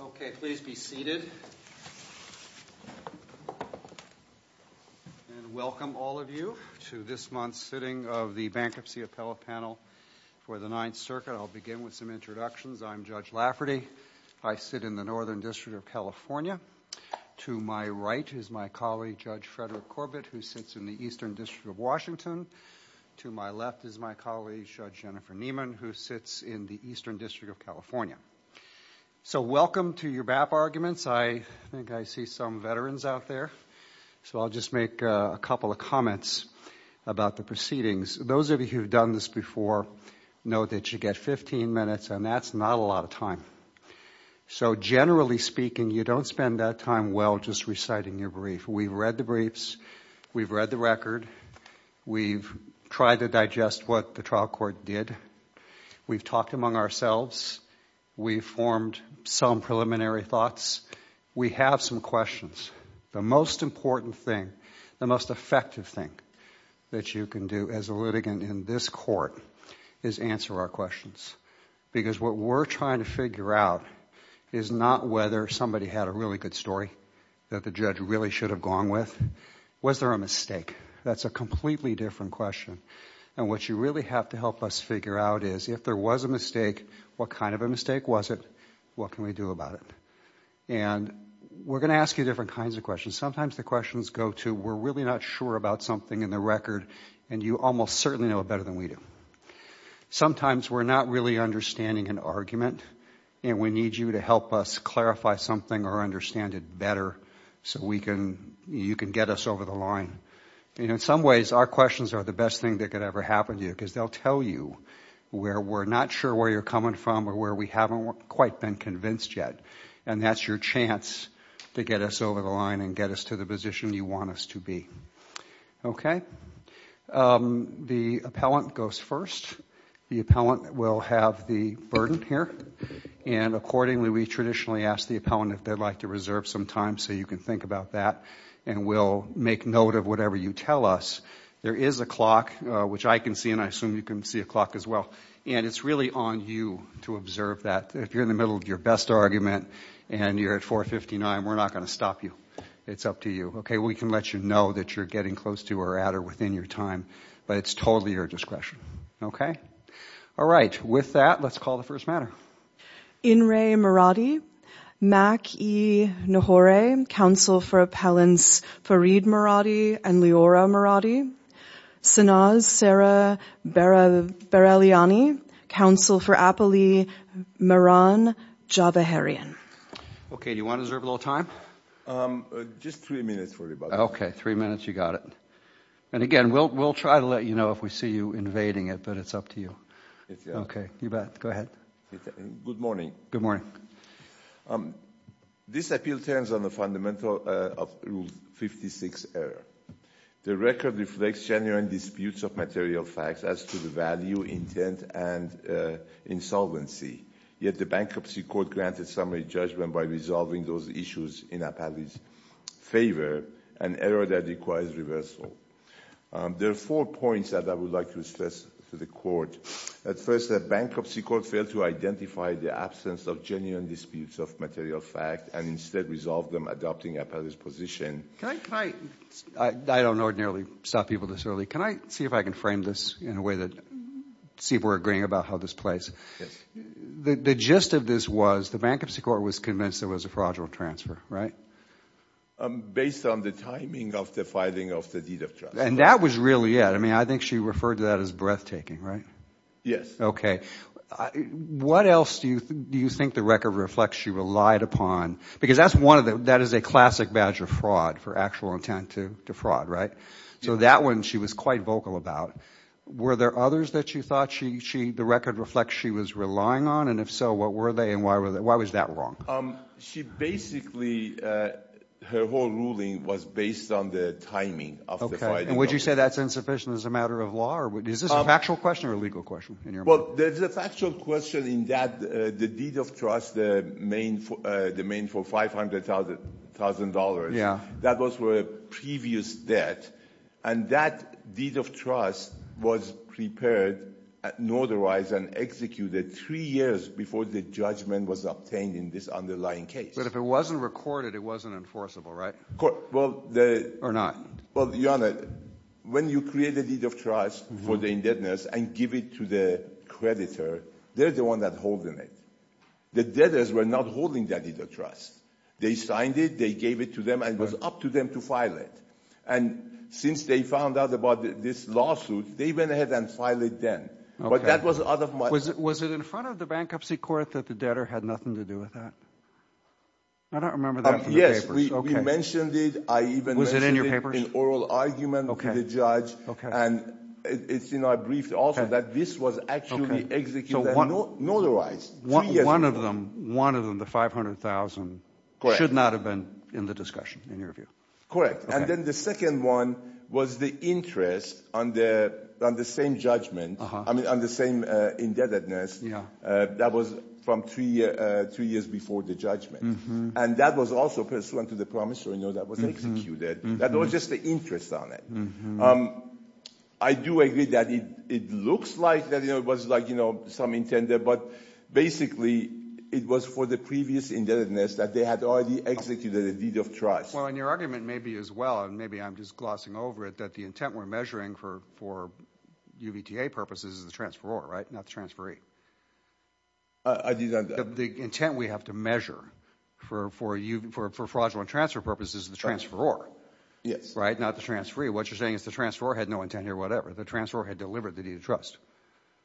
Okay. Please be seated. And welcome, all of you, to this month's sitting of the Bankruptcy Appellate Panel for the Ninth Circuit. I'll begin with some introductions. I'm Judge Lafferty. I sit in the Northern District of California. To my right is my colleague, Judge Frederick Corbett, who sits in the Eastern District of Washington. To my left is my colleague, Judge Jennifer Nieman, who sits in the Eastern District of California. So welcome to your BAP arguments. I think I see some veterans out there, so I'll just make a couple of comments about the proceedings. Those of you who have done this before know that you get 15 minutes, and that's not a lot of time. So generally speaking, you don't spend that time well just reciting your brief. We've read the briefs. We've read the record. We've tried to digest what the trial court did. We've talked among ourselves. We've formed some preliminary thoughts. We have some questions. The most important thing, the most effective thing that you can do as a litigant in this court is answer our questions, because what we're trying to figure out is not whether somebody had a really good story that the judge really should have gone with. Was there a mistake? That's a completely different question. And what you really have to help us figure out is if there was a mistake, what kind of a mistake was it? What can we do about it? And we're going to ask you different kinds of questions. Sometimes the questions go to we're really not sure about something in the record, and you almost certainly know it better than we do. Sometimes we're not really understanding an argument, and we need you to help us clarify something or understand it better so you can get us over the line. In some ways, our questions are the best thing that could ever happen to you, because they'll tell you where we're not sure where you're coming from or where we haven't quite been convinced yet, and that's your chance to get us over the line and get us to the position you want us to be. Okay? The appellant goes first. The appellant will have the burden here, and accordingly, we traditionally ask the appellant if they'd like to reserve some time so you can think about that, and we'll make note of whatever you tell us. There is a clock, which I can see, and I assume you can see a clock as well, and it's really on you to observe that. If you're in the middle of your best argument and you're at 4.59, we're not going to stop you. It's up to you. Okay? We can let you know that you're getting close to or at or within your time, but it's totally your discretion. Okay? All right. With that, let's call the first matter. Inre Mirati, Mack E. Nahore, counsel for appellants Farid Mirati and Leora Mirati. Sanaz Sara Barelyani, counsel for appellee Mehran Jabaharian. Okay. Do you want to reserve a little time? Just three minutes for me, by the way. Okay. Three minutes. You got it. And again, we'll try to let you know if we see you invading it, but it's up to you. Okay. You bet. Go ahead. Good morning. Good morning. This appeal turns on the fundamental of Rule 56 error. The record reflects genuine disputes of material facts as to the value, intent, and insolvency. Yet the Bankruptcy Court granted summary judgment by resolving those issues in appellee's favor, an error that requires reversal. There are four points that I would like to stress to the Court. First, the Bankruptcy Court failed to identify the absence of genuine disputes of material facts and instead resolved them adopting appellee's position. I don't ordinarily stop people this early. Can I see if I can frame this in a way that see if we're agreeing about how this plays? Yes. The gist of this was the Bankruptcy Court was convinced there was a fraudulent transfer, right? Based on the timing of the filing of the deed of trust. And that was really it. I mean, I think she referred to that as breathtaking, right? Yes. Okay. What else do you think the record reflects she relied upon? Because that is a classic badge of fraud for actual intent to fraud, right? So that one she was quite vocal about. Were there others that you thought the record reflects she was relying on? And if so, what were they and why was that wrong? She basically, her whole ruling was based on the timing of the filing. And would you say that's insufficient as a matter of law? Is this a factual question or a legal question? Well, there's a factual question in that the deed of trust, the main for $500,000, that was for a previous debt. And that deed of trust was prepared, notarized, and executed three years before the judgment was obtained in this underlying case. But if it wasn't recorded, it wasn't enforceable, right? Well, the... Or not? Well, Your Honor, when you create a deed of trust for the indebtedness and give it to the creditor, they're the one that's holding it. The debtors were not holding that deed of trust. They signed it, they gave it to them, and it was up to them to file it. And since they found out about this lawsuit, they went ahead and filed it then. Okay. That was out of my... Was it in front of the Bankruptcy Court that the debtor had nothing to do with that? I don't remember that from the papers. Yes, we mentioned it. I even mentioned it... Was it in your papers? ...in oral argument with the judge. And it's in our brief also that this was actually executed and notarized three years before. One of them, the $500,000, should not have been in the discussion, in your view. Correct. And then the second one was the interest on the same judgment, I mean, on the same indebtedness that was from three years before the judgment. And that was also pursuant to the promise that was executed. That was just the interest on it. I do agree that it looks like that it was like some intended, but basically it was for the previous indebtedness that they had already executed a deed of trust. Well, in your argument maybe as well, and maybe I'm just glossing over it, that the intent we're measuring for UVTA purposes is the transferor, right? Not the transferee. I didn't... The intent we have to measure for fraudulent transfer purposes is the transferor. Yes. Right? Not the transferee. What you're saying is the transferor had no intent here, whatever. The transferor had delivered the deed of trust.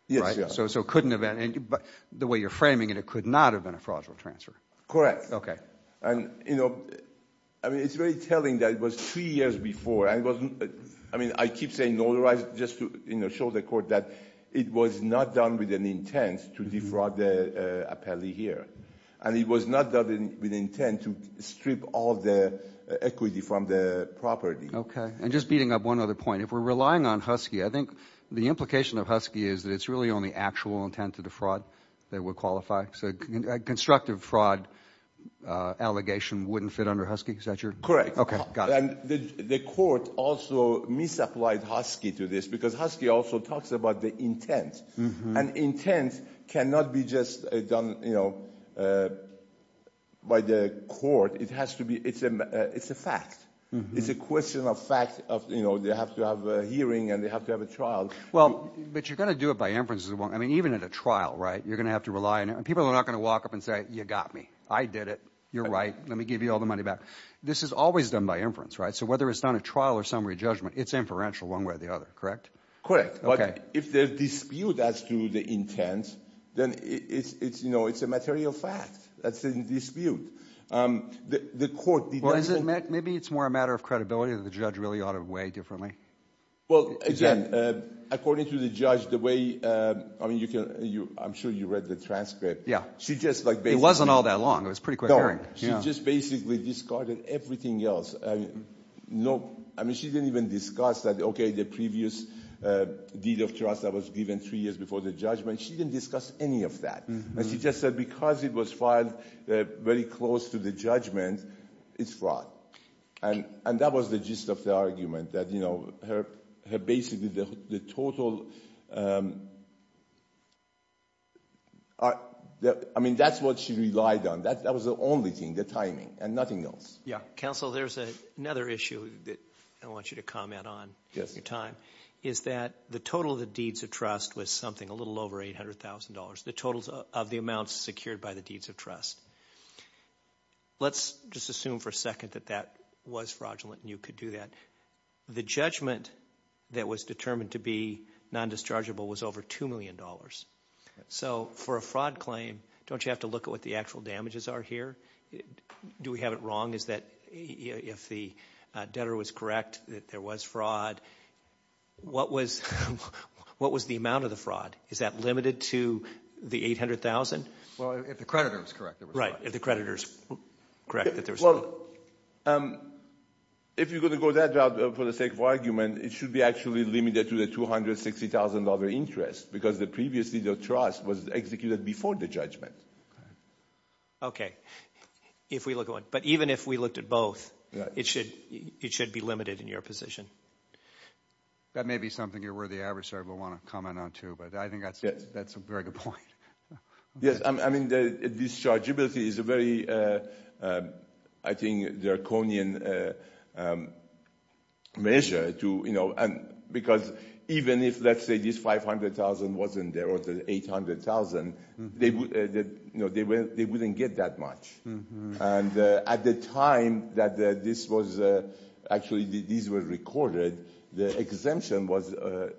Yes, yes. Right? So it couldn't have been... The way you're framing it, it could not have been a fraudulent transfer. Correct. And, you know, I mean, it's very telling that it was three years before and it wasn't... I mean, I keep saying notarized just to show the court that it was not done with an intent to defraud the appellee here. And it was not done with intent to strip all the equity from the property. Okay. And just beating up one other point, if we're relying on Husky, I think the implication of Husky is that it's really only actual intent to defraud that would qualify. So constructive fraud allegation wouldn't fit under Husky? Is that your... Correct. Okay. Got it. And the court also misapplied Husky to this because Husky also talks about the intent. And intent cannot be just done, you know, by the court. It has to be... It's a fact. It's a question of fact of, you know, they have to have a hearing and they have to have a trial. Well, but you're going to do it by inference as well. I mean, even at a trial, right, you're not going to walk up and say, you got me. I did it. You're right. Let me give you all the money back. This is always done by inference, right? So whether it's not a trial or summary judgment, it's inferential one way or the other. Correct? Okay. But if there's dispute as to the intent, then it's, you know, it's a material fact. That's in dispute. The court... Well, is it... Maybe it's more a matter of credibility that the judge really ought to weigh differently. Well, again, according to the judge, the way... I mean, you can... I'm sure you read the transcript. Yeah. She just like basically... It wasn't all that long. It was a pretty quick hearing. No. She just basically discarded everything else. I mean, no... I mean, she didn't even discuss that, okay, the previous deed of trust that was given three years before the judgment. She didn't discuss any of that. And she just said, because it was filed very close to the judgment, it's fraud. And that was the gist of the argument, that, you know, her basically the total... I mean, that's what she relied on. That was the only thing, the timing, and nothing else. Yeah. Counsel, there's another issue that I want you to comment on your time, is that the total of the deeds of trust was something a little over $800,000, the totals of the amounts secured by the deeds of trust. Let's just assume for a second that that was fraudulent and you could do that. The judgment that was determined to be non-dischargeable was over $2 million. So for a fraud claim, don't you have to look at what the actual damages are here? Do we have it wrong? Is that... If the debtor was correct that there was fraud, what was the amount of the fraud? Is that limited to the 800,000? Well, if the creditor was correct, there was fraud. Right. If the creditor is correct that there was fraud. Well, if you're going to go that route for the sake of argument, it should be actually limited to the $260,000 interest, because previously the trust was executed before the judgment. Okay. If we look at one... But even if we looked at both, it should be limited in your position. That may be something your worthy adversary will want to comment on too, but I think that's a very good point. Yes. I mean, the dischargeability is a very, I think, draconian measure, because even if let's say this $500,000 wasn't there or the $800,000, they wouldn't get that much. And at the time that this was actually recorded, the exemption was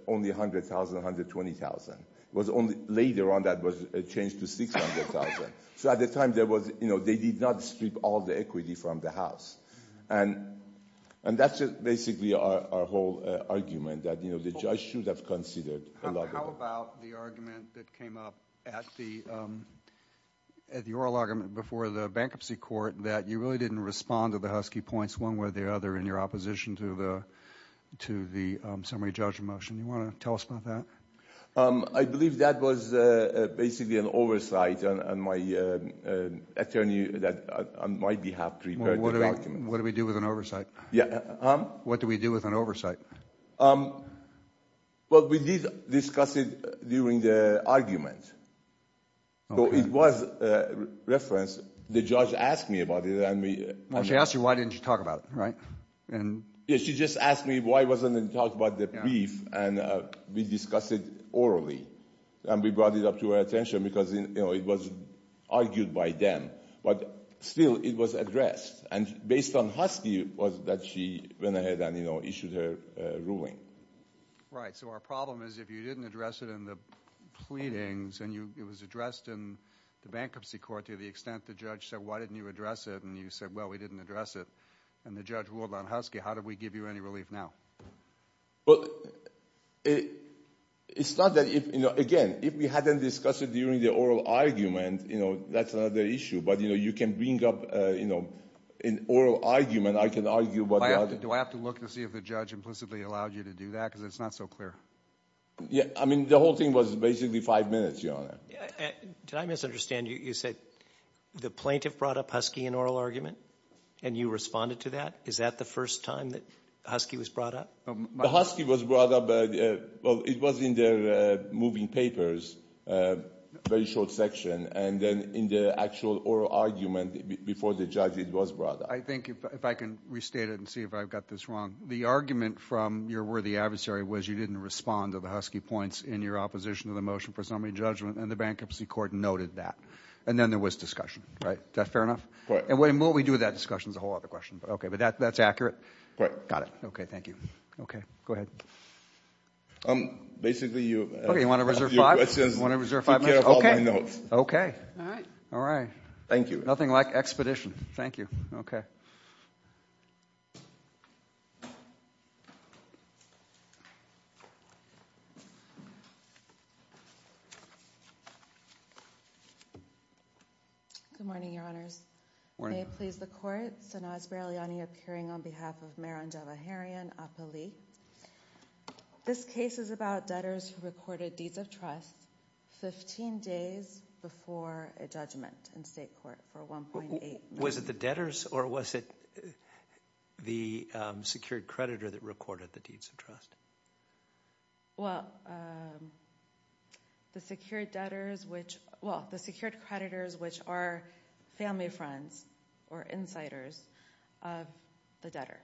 only $100,000, $120,000. It was only later on that it changed to $600,000. So at the time, they did not strip all the equity from the house. And that's just basically our whole argument, that the judge should have considered a lot of... How about the argument that came up at the oral argument before the bankruptcy court, that you really didn't respond to the Husky points one way or the other in your opposition to the summary judge motion? Do you want to tell us about that? I believe that was basically an oversight on my attorney that on my behalf prepared the document. What do we do with an oversight? Yeah. What do we do with an oversight? Well, we did discuss it during the argument. So it was referenced. The judge asked me about it and we... She asked you why didn't you talk about it, right? Yeah. She just asked me why I wasn't going to talk about the brief and we discussed it orally. And we brought it up to her attention because it was argued by them. But still, it was addressed. And based on Husky was that she went ahead and issued her ruling. Right. So our problem is if you didn't address it in the pleadings and it was addressed in the bankruptcy court to the extent the judge said, why didn't you address it? And you said, well, we didn't address it. And the judge ruled on Husky. How do we give you any relief now? Well, it's not that if... Again, if we hadn't discussed it during the oral argument, that's another issue. But you can bring up an oral argument. I can argue what... Do I have to look to see if the judge implicitly allowed you to do that? Because it's not so clear. Yeah. I mean, the whole thing was basically five minutes, Your Honor. Did I misunderstand you? You said the plaintiff brought up Husky in oral argument and you responded to that? Is that the first time that Husky was brought up? The Husky was brought up... Well, it was in the moving papers, very short section. And then in the actual oral argument before the judge, it was brought up. I think if I can restate it and see if I've got this wrong. The argument from your worthy adversary was you didn't respond to the Husky points in your opposition to the motion for re-judgment and the bankruptcy court noted that. And then there was discussion, right? Is that fair enough? Correct. And what we do with that discussion is a whole other question. But that's accurate? Correct. Got it. Okay. Thank you. Okay. Go ahead. Basically, you... Okay. You want to reserve five minutes?... your questions. You want to reserve five minutes? Take care of all my notes. Okay. All right. All right. Thank you. Nothing like expedition. Thank you. Okay. Good morning, Your Honors. Good morning. May it please the court. Sanaz Berliani appearing on behalf of Mehran Javaharian, Apali. This case is about debtors who recorded deeds of trust 15 days before a judgment in state court for 1.8 million... Was it the debtors or was it the secured creditor that recorded the deeds of trust? Well, the secured debtors which... Well, the secured creditors which are family friends or insiders of the debtor.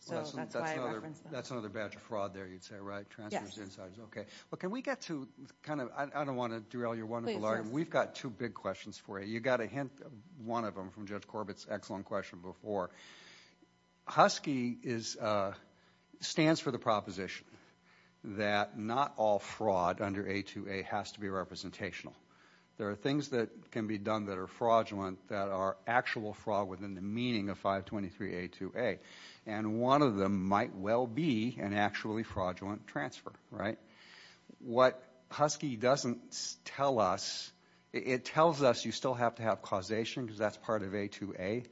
So that's why I referenced them. That's another batch of fraud there, you'd say, right? Yes. Okay. But can we get to kind of... I don't want to derail your wonderful argument. We've got two big questions for you. You got a hint, one of them, from Judge Corbett's excellent question before. Husky stands for the proposition that not all fraud under A2A has to be representational. There are things that can be done that are fraudulent that are actual fraud within the meaning of 523 A2A. And one of them might well be an actually fraudulent transfer, right? What Husky doesn't tell us, it tells us you still have to have causation because that's part of A2A.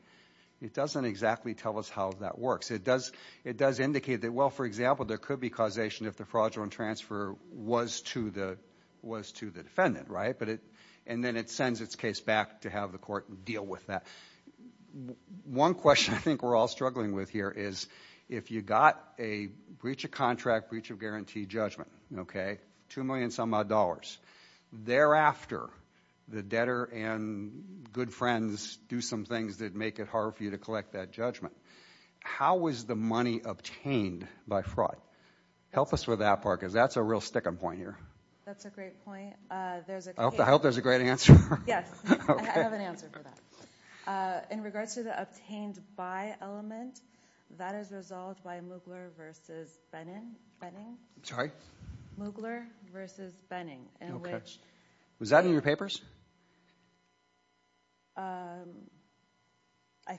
It doesn't exactly tell us how that works. It does indicate that, well, for example, there could be causation if the fraudulent transfer was to the defendant, right? And then it sends its case back to have the court deal with that. One question I think we're all struggling with here is if you got a breach of contract, breach of guarantee judgment, okay? Two million some odd dollars. Thereafter, the debtor and good friends do some things that make it hard for you to collect that judgment. How is the money obtained by fraud? Help us with that part because that's a real sticking point here. That's a great point. I hope there's a great answer. Yes, I have an answer for that. In regards to the obtained by element, that is resolved by Moogler versus Benning. I'm sorry? Moogler versus Benning. Okay. Was that in your papers? I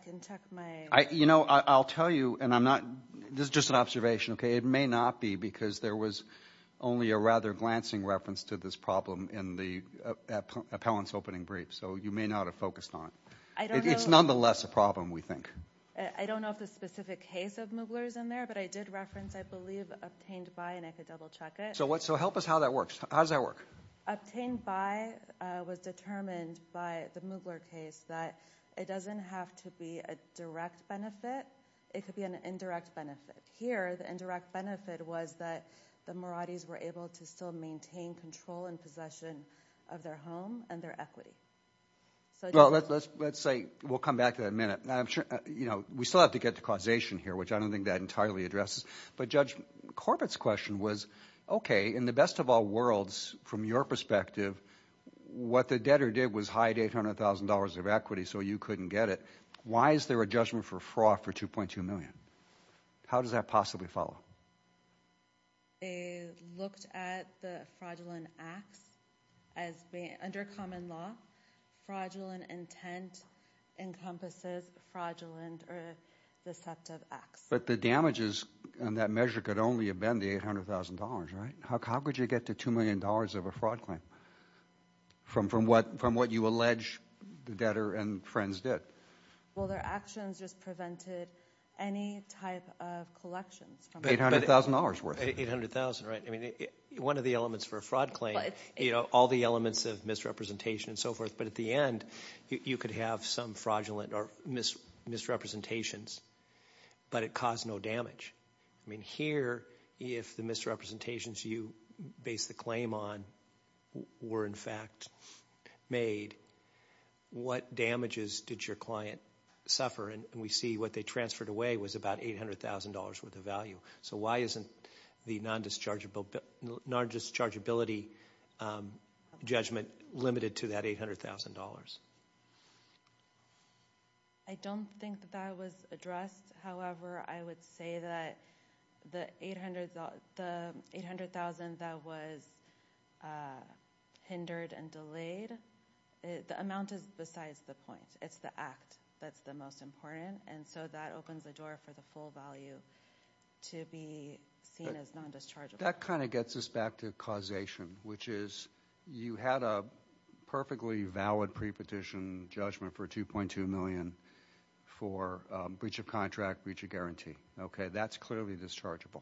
can check my... You know, I'll tell you and I'm not... This is just an observation, okay? It may not be because there was only a rather glancing reference to this problem in the appellant's opening brief, so you may not have focused on it. It's nonetheless a problem, we think. I don't know if the specific case of Moogler is in there, but I did reference, I believe, obtained by and I could double check it. So help us how that works. How does that work? Obtained by was determined by the Moogler case that it doesn't have to be a direct benefit. It could be an indirect benefit. Here, the indirect benefit was that the Maradis were able to still maintain control and discretion of their home and their equity. Well, let's say... We'll come back to that in a minute. We still have to get to causation here, which I don't think that entirely addresses. But Judge Corbett's question was, okay, in the best of all worlds, from your perspective, what the debtor did was hide $800,000 of equity so you couldn't get it. Why is there a judgment for fraud for $2.2 million? How does that possibly follow? They looked at the fraudulent acts as being under common law. Fraudulent intent encompasses fraudulent or deceptive acts. But the damages on that measure could only have been the $800,000, right? How could you get to $2 million of a fraud claim from what you allege the debtor and friends did? Well, their actions just prevented any type of collections. $800,000 worth. $800,000, right. One of the elements for a fraud claim, all the elements of misrepresentation and so forth. But at the end, you could have some fraudulent or misrepresentations, but it caused no damage. Here, if the misrepresentations you base the claim on were, in fact, made, what damages did your client suffer? And we see what they transferred away was about $800,000 worth of value. So why isn't the non-dischargeability judgment limited to that $800,000? I don't think that was addressed. However, I would say that the $800,000 that was hindered and delayed, the amount is besides the point. It's the act that's the most important, and so that opens the door for the full value to be seen as non-dischargeable. That kind of gets us back to causation, which is you had a perfectly valid prepetition judgment for $2.2 million for breach of contract, breach of guarantee. That's clearly dischargeable.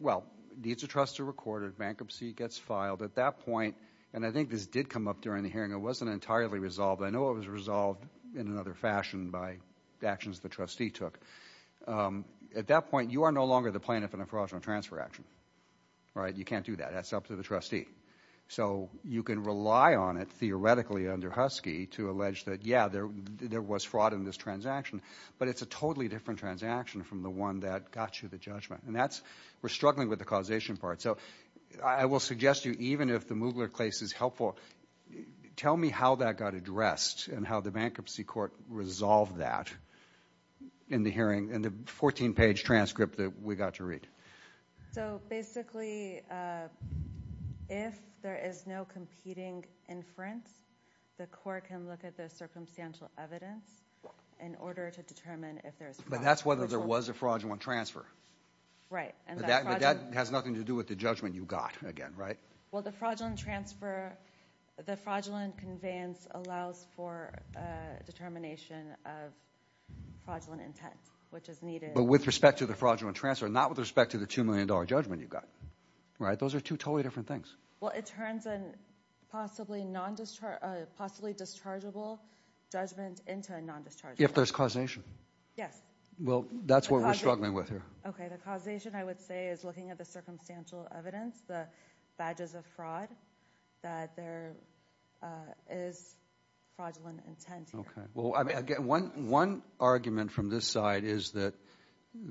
Well, needs of trust are recorded. Bankruptcy gets filed. At that point, and I think this did come up during the hearing, it wasn't entirely resolved. I know it was resolved in another fashion by actions the trustee took. At that point, you are no longer the plaintiff in a fraudulent transfer action. You can't do that. That's up to the trustee. So you can rely on it, theoretically, under Husky, to allege that, yeah, there was fraud in this transaction, but it's a totally different transaction from the one that got you the judgment. We're struggling with the causation part. So I will suggest to you, even if the Moogler case is helpful, tell me how that got addressed and how the bankruptcy court resolved that in the 14-page transcript that we got to read. So basically, if there is no competing inference, the court can look at the circumstantial evidence in order to determine if there is fraud. But that's whether there was a fraudulent transfer. Right. But that has nothing to do with the judgment you got, again, right? Well, the fraudulent transfer, the fraudulent conveyance allows for determination of fraudulent intent, which is needed. But with respect to the fraudulent transfer, not with respect to the $2 million judgment you got, right? Those are two totally different things. Well, it turns a possibly non-dischargeable judgment into a non-dischargeable. If there's causation. Yes. Well, that's what we're struggling with here. Okay, the causation, I would say, is looking at the circumstantial evidence, the badges of fraud, that there is fraudulent intent here. Okay. Well, again, one argument from this side is that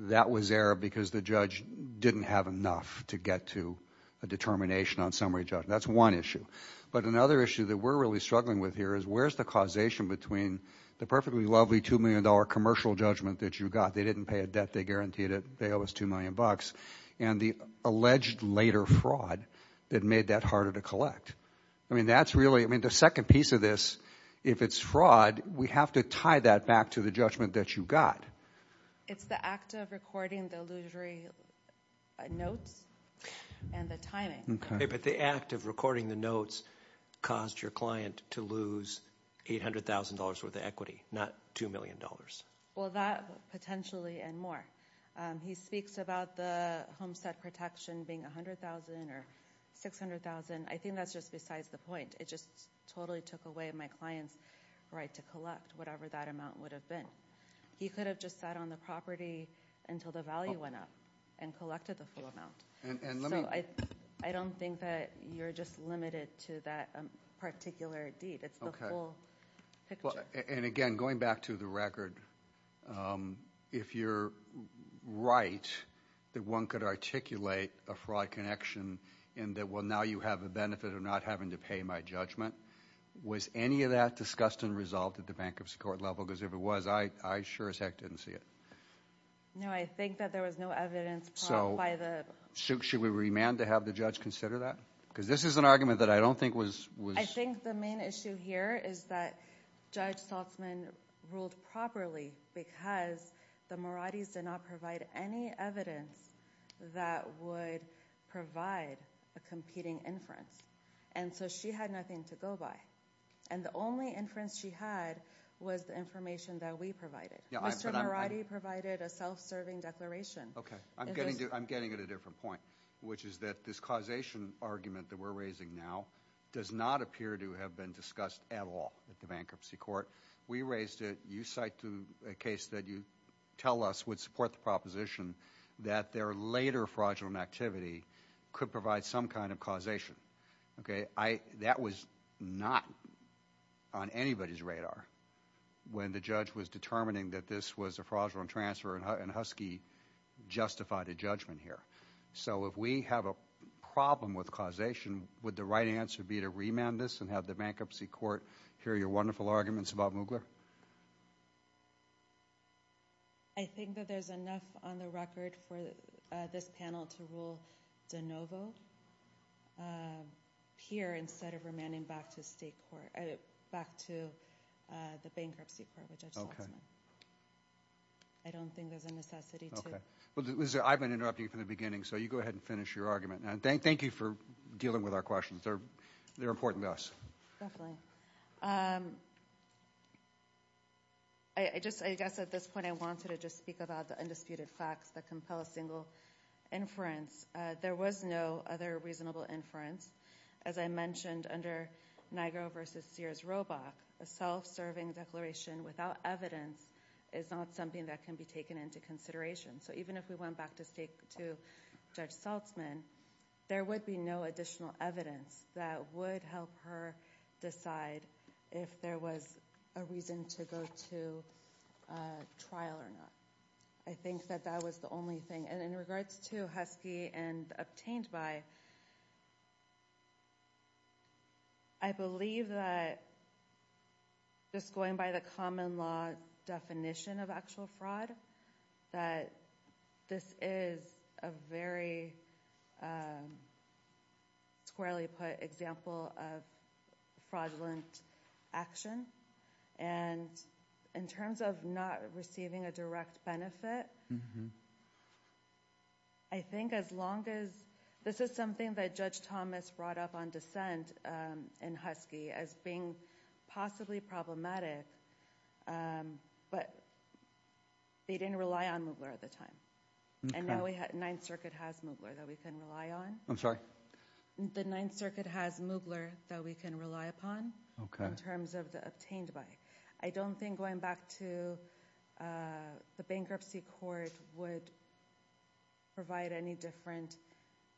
that was there because the judge didn't have enough to get to a determination on summary judgment. That's one issue. But another issue that we're really struggling with here is where's the causation between the perfectly lovely $2 million commercial judgment that you got, they didn't pay a debt, they guaranteed it, and the alleged later fraud that made that harder to collect. I mean, that's really, I mean, the second piece of this, if it's fraud, we have to tie that back to the judgment that you got. It's the act of recording the illusory notes and the timing. Okay, but the act of recording the notes caused your client to lose $800,000 worth of equity, not $2 million. Well, that potentially and more. He speaks about the homestead protection being $100,000 or $600,000. I think that's just besides the point. It just totally took away my client's right to collect whatever that amount would have been. He could have just sat on the property until the value went up and collected the full amount. So I don't think that you're just limited to that particular deed. It's the full picture. And again, going back to the record, if you're right that one could articulate a fraud connection and that, well, now you have the benefit of not having to pay my judgment, was any of that discussed and resolved at the bankruptcy court level? Because if it was, I sure as heck didn't see it. No, I think that there was no evidence brought by the... So should we remand to have the judge consider that? Because this is an argument that I don't think was... I think the main issue here is that Judge Saltzman ruled properly because the Moratti's did not provide any evidence that would provide a competing inference. And so she had nothing to go by. And the only inference she had was the information that we provided. Mr. Moratti provided a self-serving declaration. Okay, I'm getting at a different point, which is that this causation argument that we're raising now does not appear to have been discussed at all at the bankruptcy court. We raised it. You cite a case that you tell us would support the proposition that their later fraudulent activity could provide some kind of causation. Okay, that was not on anybody's radar when the judge was determining that this was a fraudulent transfer and Husky justified a judgment here. So if we have a problem with causation, would the right answer be to remand this and have the bankruptcy court hear your wonderful arguments about Moogler? I think that there's enough on the record for this panel to rule de novo here instead of remanding back to the bankruptcy court with Judge Saltzman. I don't think there's a necessity to... I've been interrupting you from the beginning, so you go ahead and finish your argument. Thank you for dealing with our questions. They're important to us. Definitely. I guess at this point I wanted to just speak about the undisputed facts that compel a single inference. There was no other reasonable inference. As I mentioned under Nigro v. Sears-Robach, a self-serving declaration without evidence is not something that can be taken into consideration. So even if we went back to Judge Saltzman, there would be no additional evidence that would help her decide if there was a reason to go to trial or not. I think that that was the only thing. And in regards to Husky and obtained by, I believe that just going by the common law definition of actual fraud, that this is a very squarely put example of fraudulent action. And in terms of not receiving a direct benefit, I think as long as... This is something that Judge Thomas brought up on dissent in Husky as being possibly problematic. But they didn't rely on Moogler at the time. And now the Ninth Circuit has Moogler that we can rely on. I'm sorry? The Ninth Circuit has Moogler that we can rely upon in terms of the obtained by. I don't think going back to the bankruptcy court would provide any different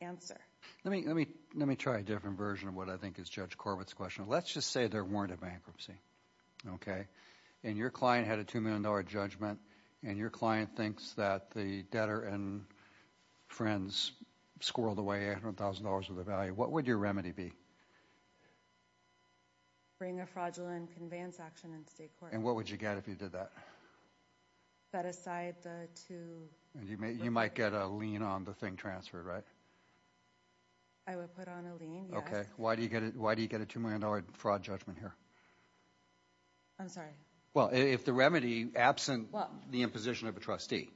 answer. Let me try a different version of what I think is Judge Corbett's question. Let's just say there weren't a bankruptcy. Okay. And your client had a $2 million judgment. And your client thinks that the debtor and friends squirreled away $800,000 worth of value. What would your remedy be? Bring a fraudulent conveyance action in state court. And what would you get if you did that? Set aside the two... You might get a lien on the thing transferred, right? I would put on a lien, yes. Okay. Why do you get a $2 million fraud judgment here? I'm sorry? Well, if the remedy, absent the imposition of a trustee,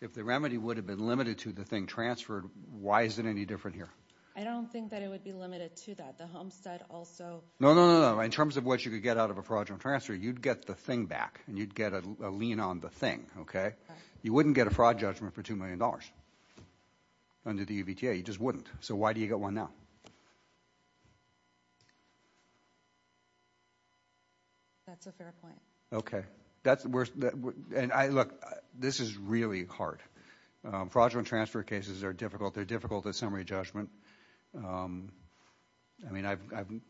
if the remedy would have been limited to the thing transferred, why is it any different here? I don't think that it would be limited to that. The Homestead also... No, no, no. In terms of what you could get out of a fraudulent transfer, you'd get the thing back. And you'd get a lien on the thing, okay? You wouldn't get a fraud judgment for $2 million. Under the UVTA, you just wouldn't. So why do you get one now? That's a fair point. Okay. That's... And look, this is really hard. Fraudulent transfer cases are difficult. They're difficult at summary judgment. I mean, I've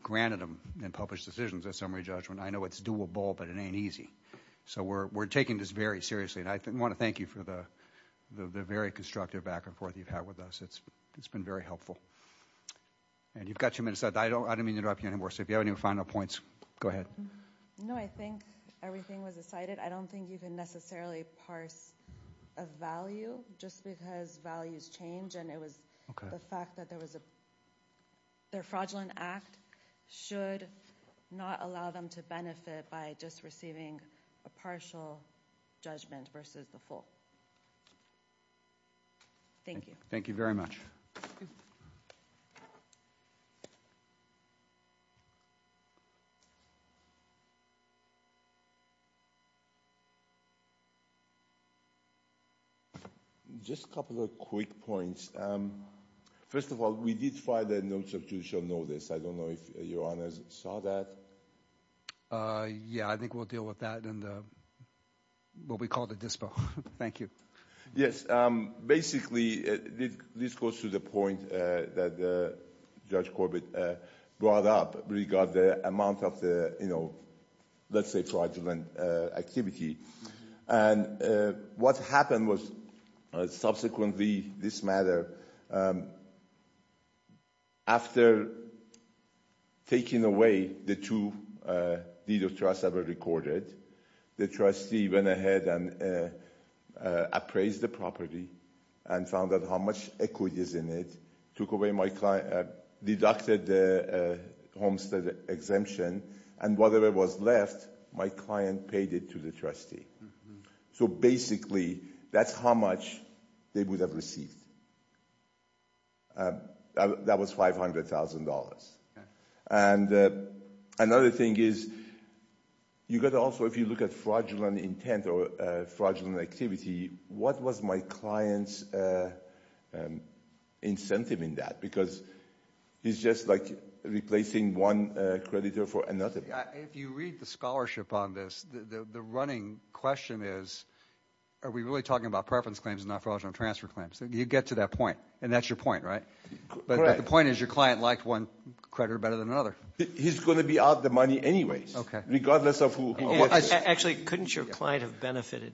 granted them and published decisions at summary judgment. I know it's doable, but it ain't easy. So we're taking this very seriously. And I want to thank you for the very constructive back-and-forth you've had with us. It's been very helpful. Okay. And you've got your minutes. I don't mean to interrupt you anymore. So if you have any final points, go ahead. No, I think everything was decided. I don't think you can necessarily parse a value just because values change. And it was the fact that there was a... Their fraudulent act should not allow them to benefit by just receiving a partial judgment versus the full. Thank you. Thank you very much. Thank you. Just a couple of quick points. First of all, we did file the notes of judicial notice. I don't know if Your Honors saw that. Yeah, I think we'll deal with that in what we call the dispo. Thank you. Yes, basically, this goes to the point that Judge Corbett brought up regarding the amount of the, you know, let's say fraudulent activity. And what happened was subsequently, this matter, after taking away the two deeds of trust that were recorded, the trustee went ahead and appraised the property and found out how much equity is in it, took away my client, deducted the homestead exemption, and whatever was left, my client paid it to the trustee. So basically, that's how much they would have received. That was $500,000. And another thing is, you got to also, if you look at fraudulent intent or fraudulent activity, what was my client's incentive in that? Because he's just, like, replacing one creditor for another. If you read the scholarship on this, the running question is, are we really talking about preference claims and not fraudulent transfer claims? You get to that point. And that's your point, right? Correct. But the point is, your client liked one creditor better than another. He's going to be out the money anyways, regardless of who... Actually, couldn't your client have benefited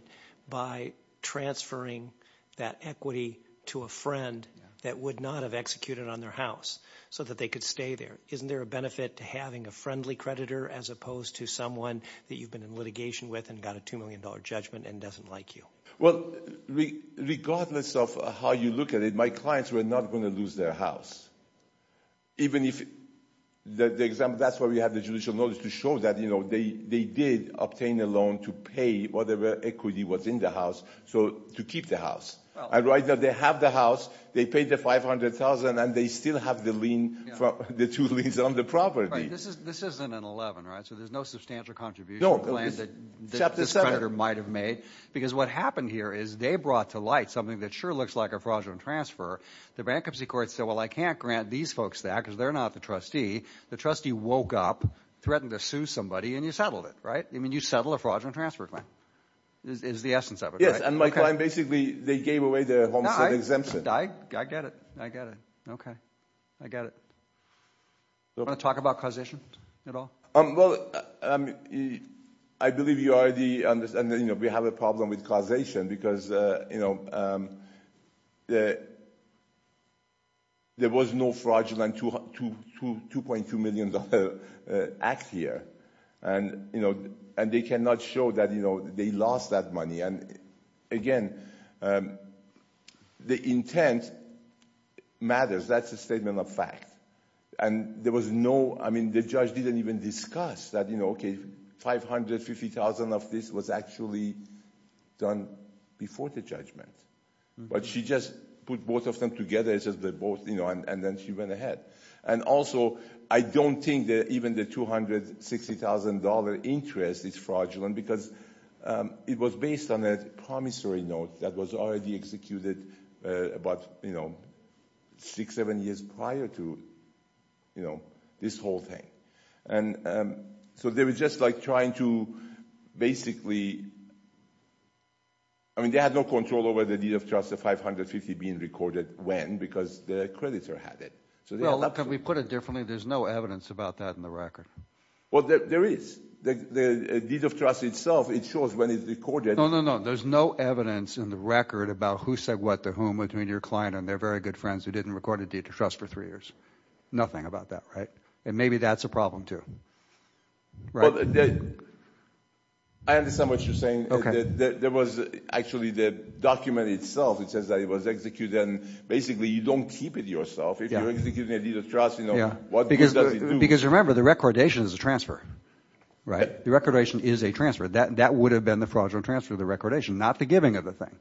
by transferring that equity to a friend that would not have executed on their house so that they could stay there? Isn't there a benefit to having a friendly creditor as opposed to someone that you've been in litigation with and got a $2 million judgment and doesn't like you? Well, regardless of how you look at it, my clients were not going to lose their house. Even if... That's why we have the judicial knowledge, to show that they did obtain a loan to pay whatever equity was in the house to keep the house. And right now, they have the house, they paid the $500,000, and they still have the two liens on the property. This isn't an 11, right? So there's no substantial contribution plan that this creditor might have made. Because what happened here is, they brought to light something that sure looks like a fraudulent transfer. The bankruptcy court said, well, I can't grant these folks that because they're not the trustee. The trustee woke up, threatened to sue somebody, and you settled it, right? You settled a fraudulent transfer plan. It's the essence of it, right? Yes, and my client basically, they gave away their homestead exemption. I get it. I get it. Okay. I get it. Do you want to talk about causation at all? Well, I believe you already understand that we have a problem with causation because there was no fraudulent $2.2 million act here. And they cannot show that they lost that money. And again, the intent matters. That's a statement of fact. And there was no, I mean, the judge didn't even discuss that, okay, $500,000, $50,000 of this was actually done before the judgment. But she just put both of them together, and then she went ahead. And also, I don't think that even the $260,000 interest is fraudulent because it was based on a promissory note that was already executed about, you know, six, seven years prior to, you know, this whole thing. And so they were just like trying to basically, I mean, they had no control over the deed of trust, the $550,000 being recorded. When? Because the creditor had it. Well, can we put it differently? There's no evidence about that in the record. Well, there is. The deed of trust itself, it shows when it's recorded. No, no, no. There's no evidence in the record about who said what to whom between your client and their very good friends who didn't record a deed of trust for three years. Nothing about that, right? And maybe that's a problem, too. Right. I understand what you're saying. Okay. There was actually the document itself, it says that it was executed, and basically you don't keep it yourself if you're executing a deed of trust. Because remember, the recordation is a transfer, right? The recordation is a transfer. That would have been the fraudulent transfer, the recordation, not the giving of the thing.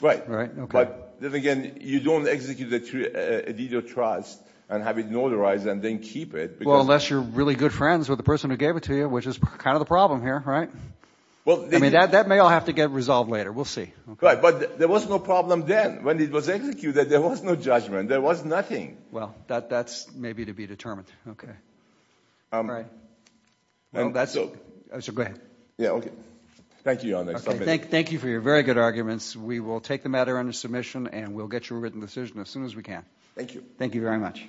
Right. But then again, you don't execute a deed of trust and have it notarized and then keep it. Well, unless you're really good friends with the person who gave it to you, which is kind of the problem here, right? I mean, that may all have to get resolved later. We'll see. Right. But there was no problem then. When it was executed, there was no judgment. There was nothing. Well, that's maybe to be determined. All right. So go ahead. Yeah, okay. Thank you, Your Honor. Thank you for your very good arguments. We will take the matter under submission and we'll get you a written decision as soon as we can. Thank you. Thank you very much.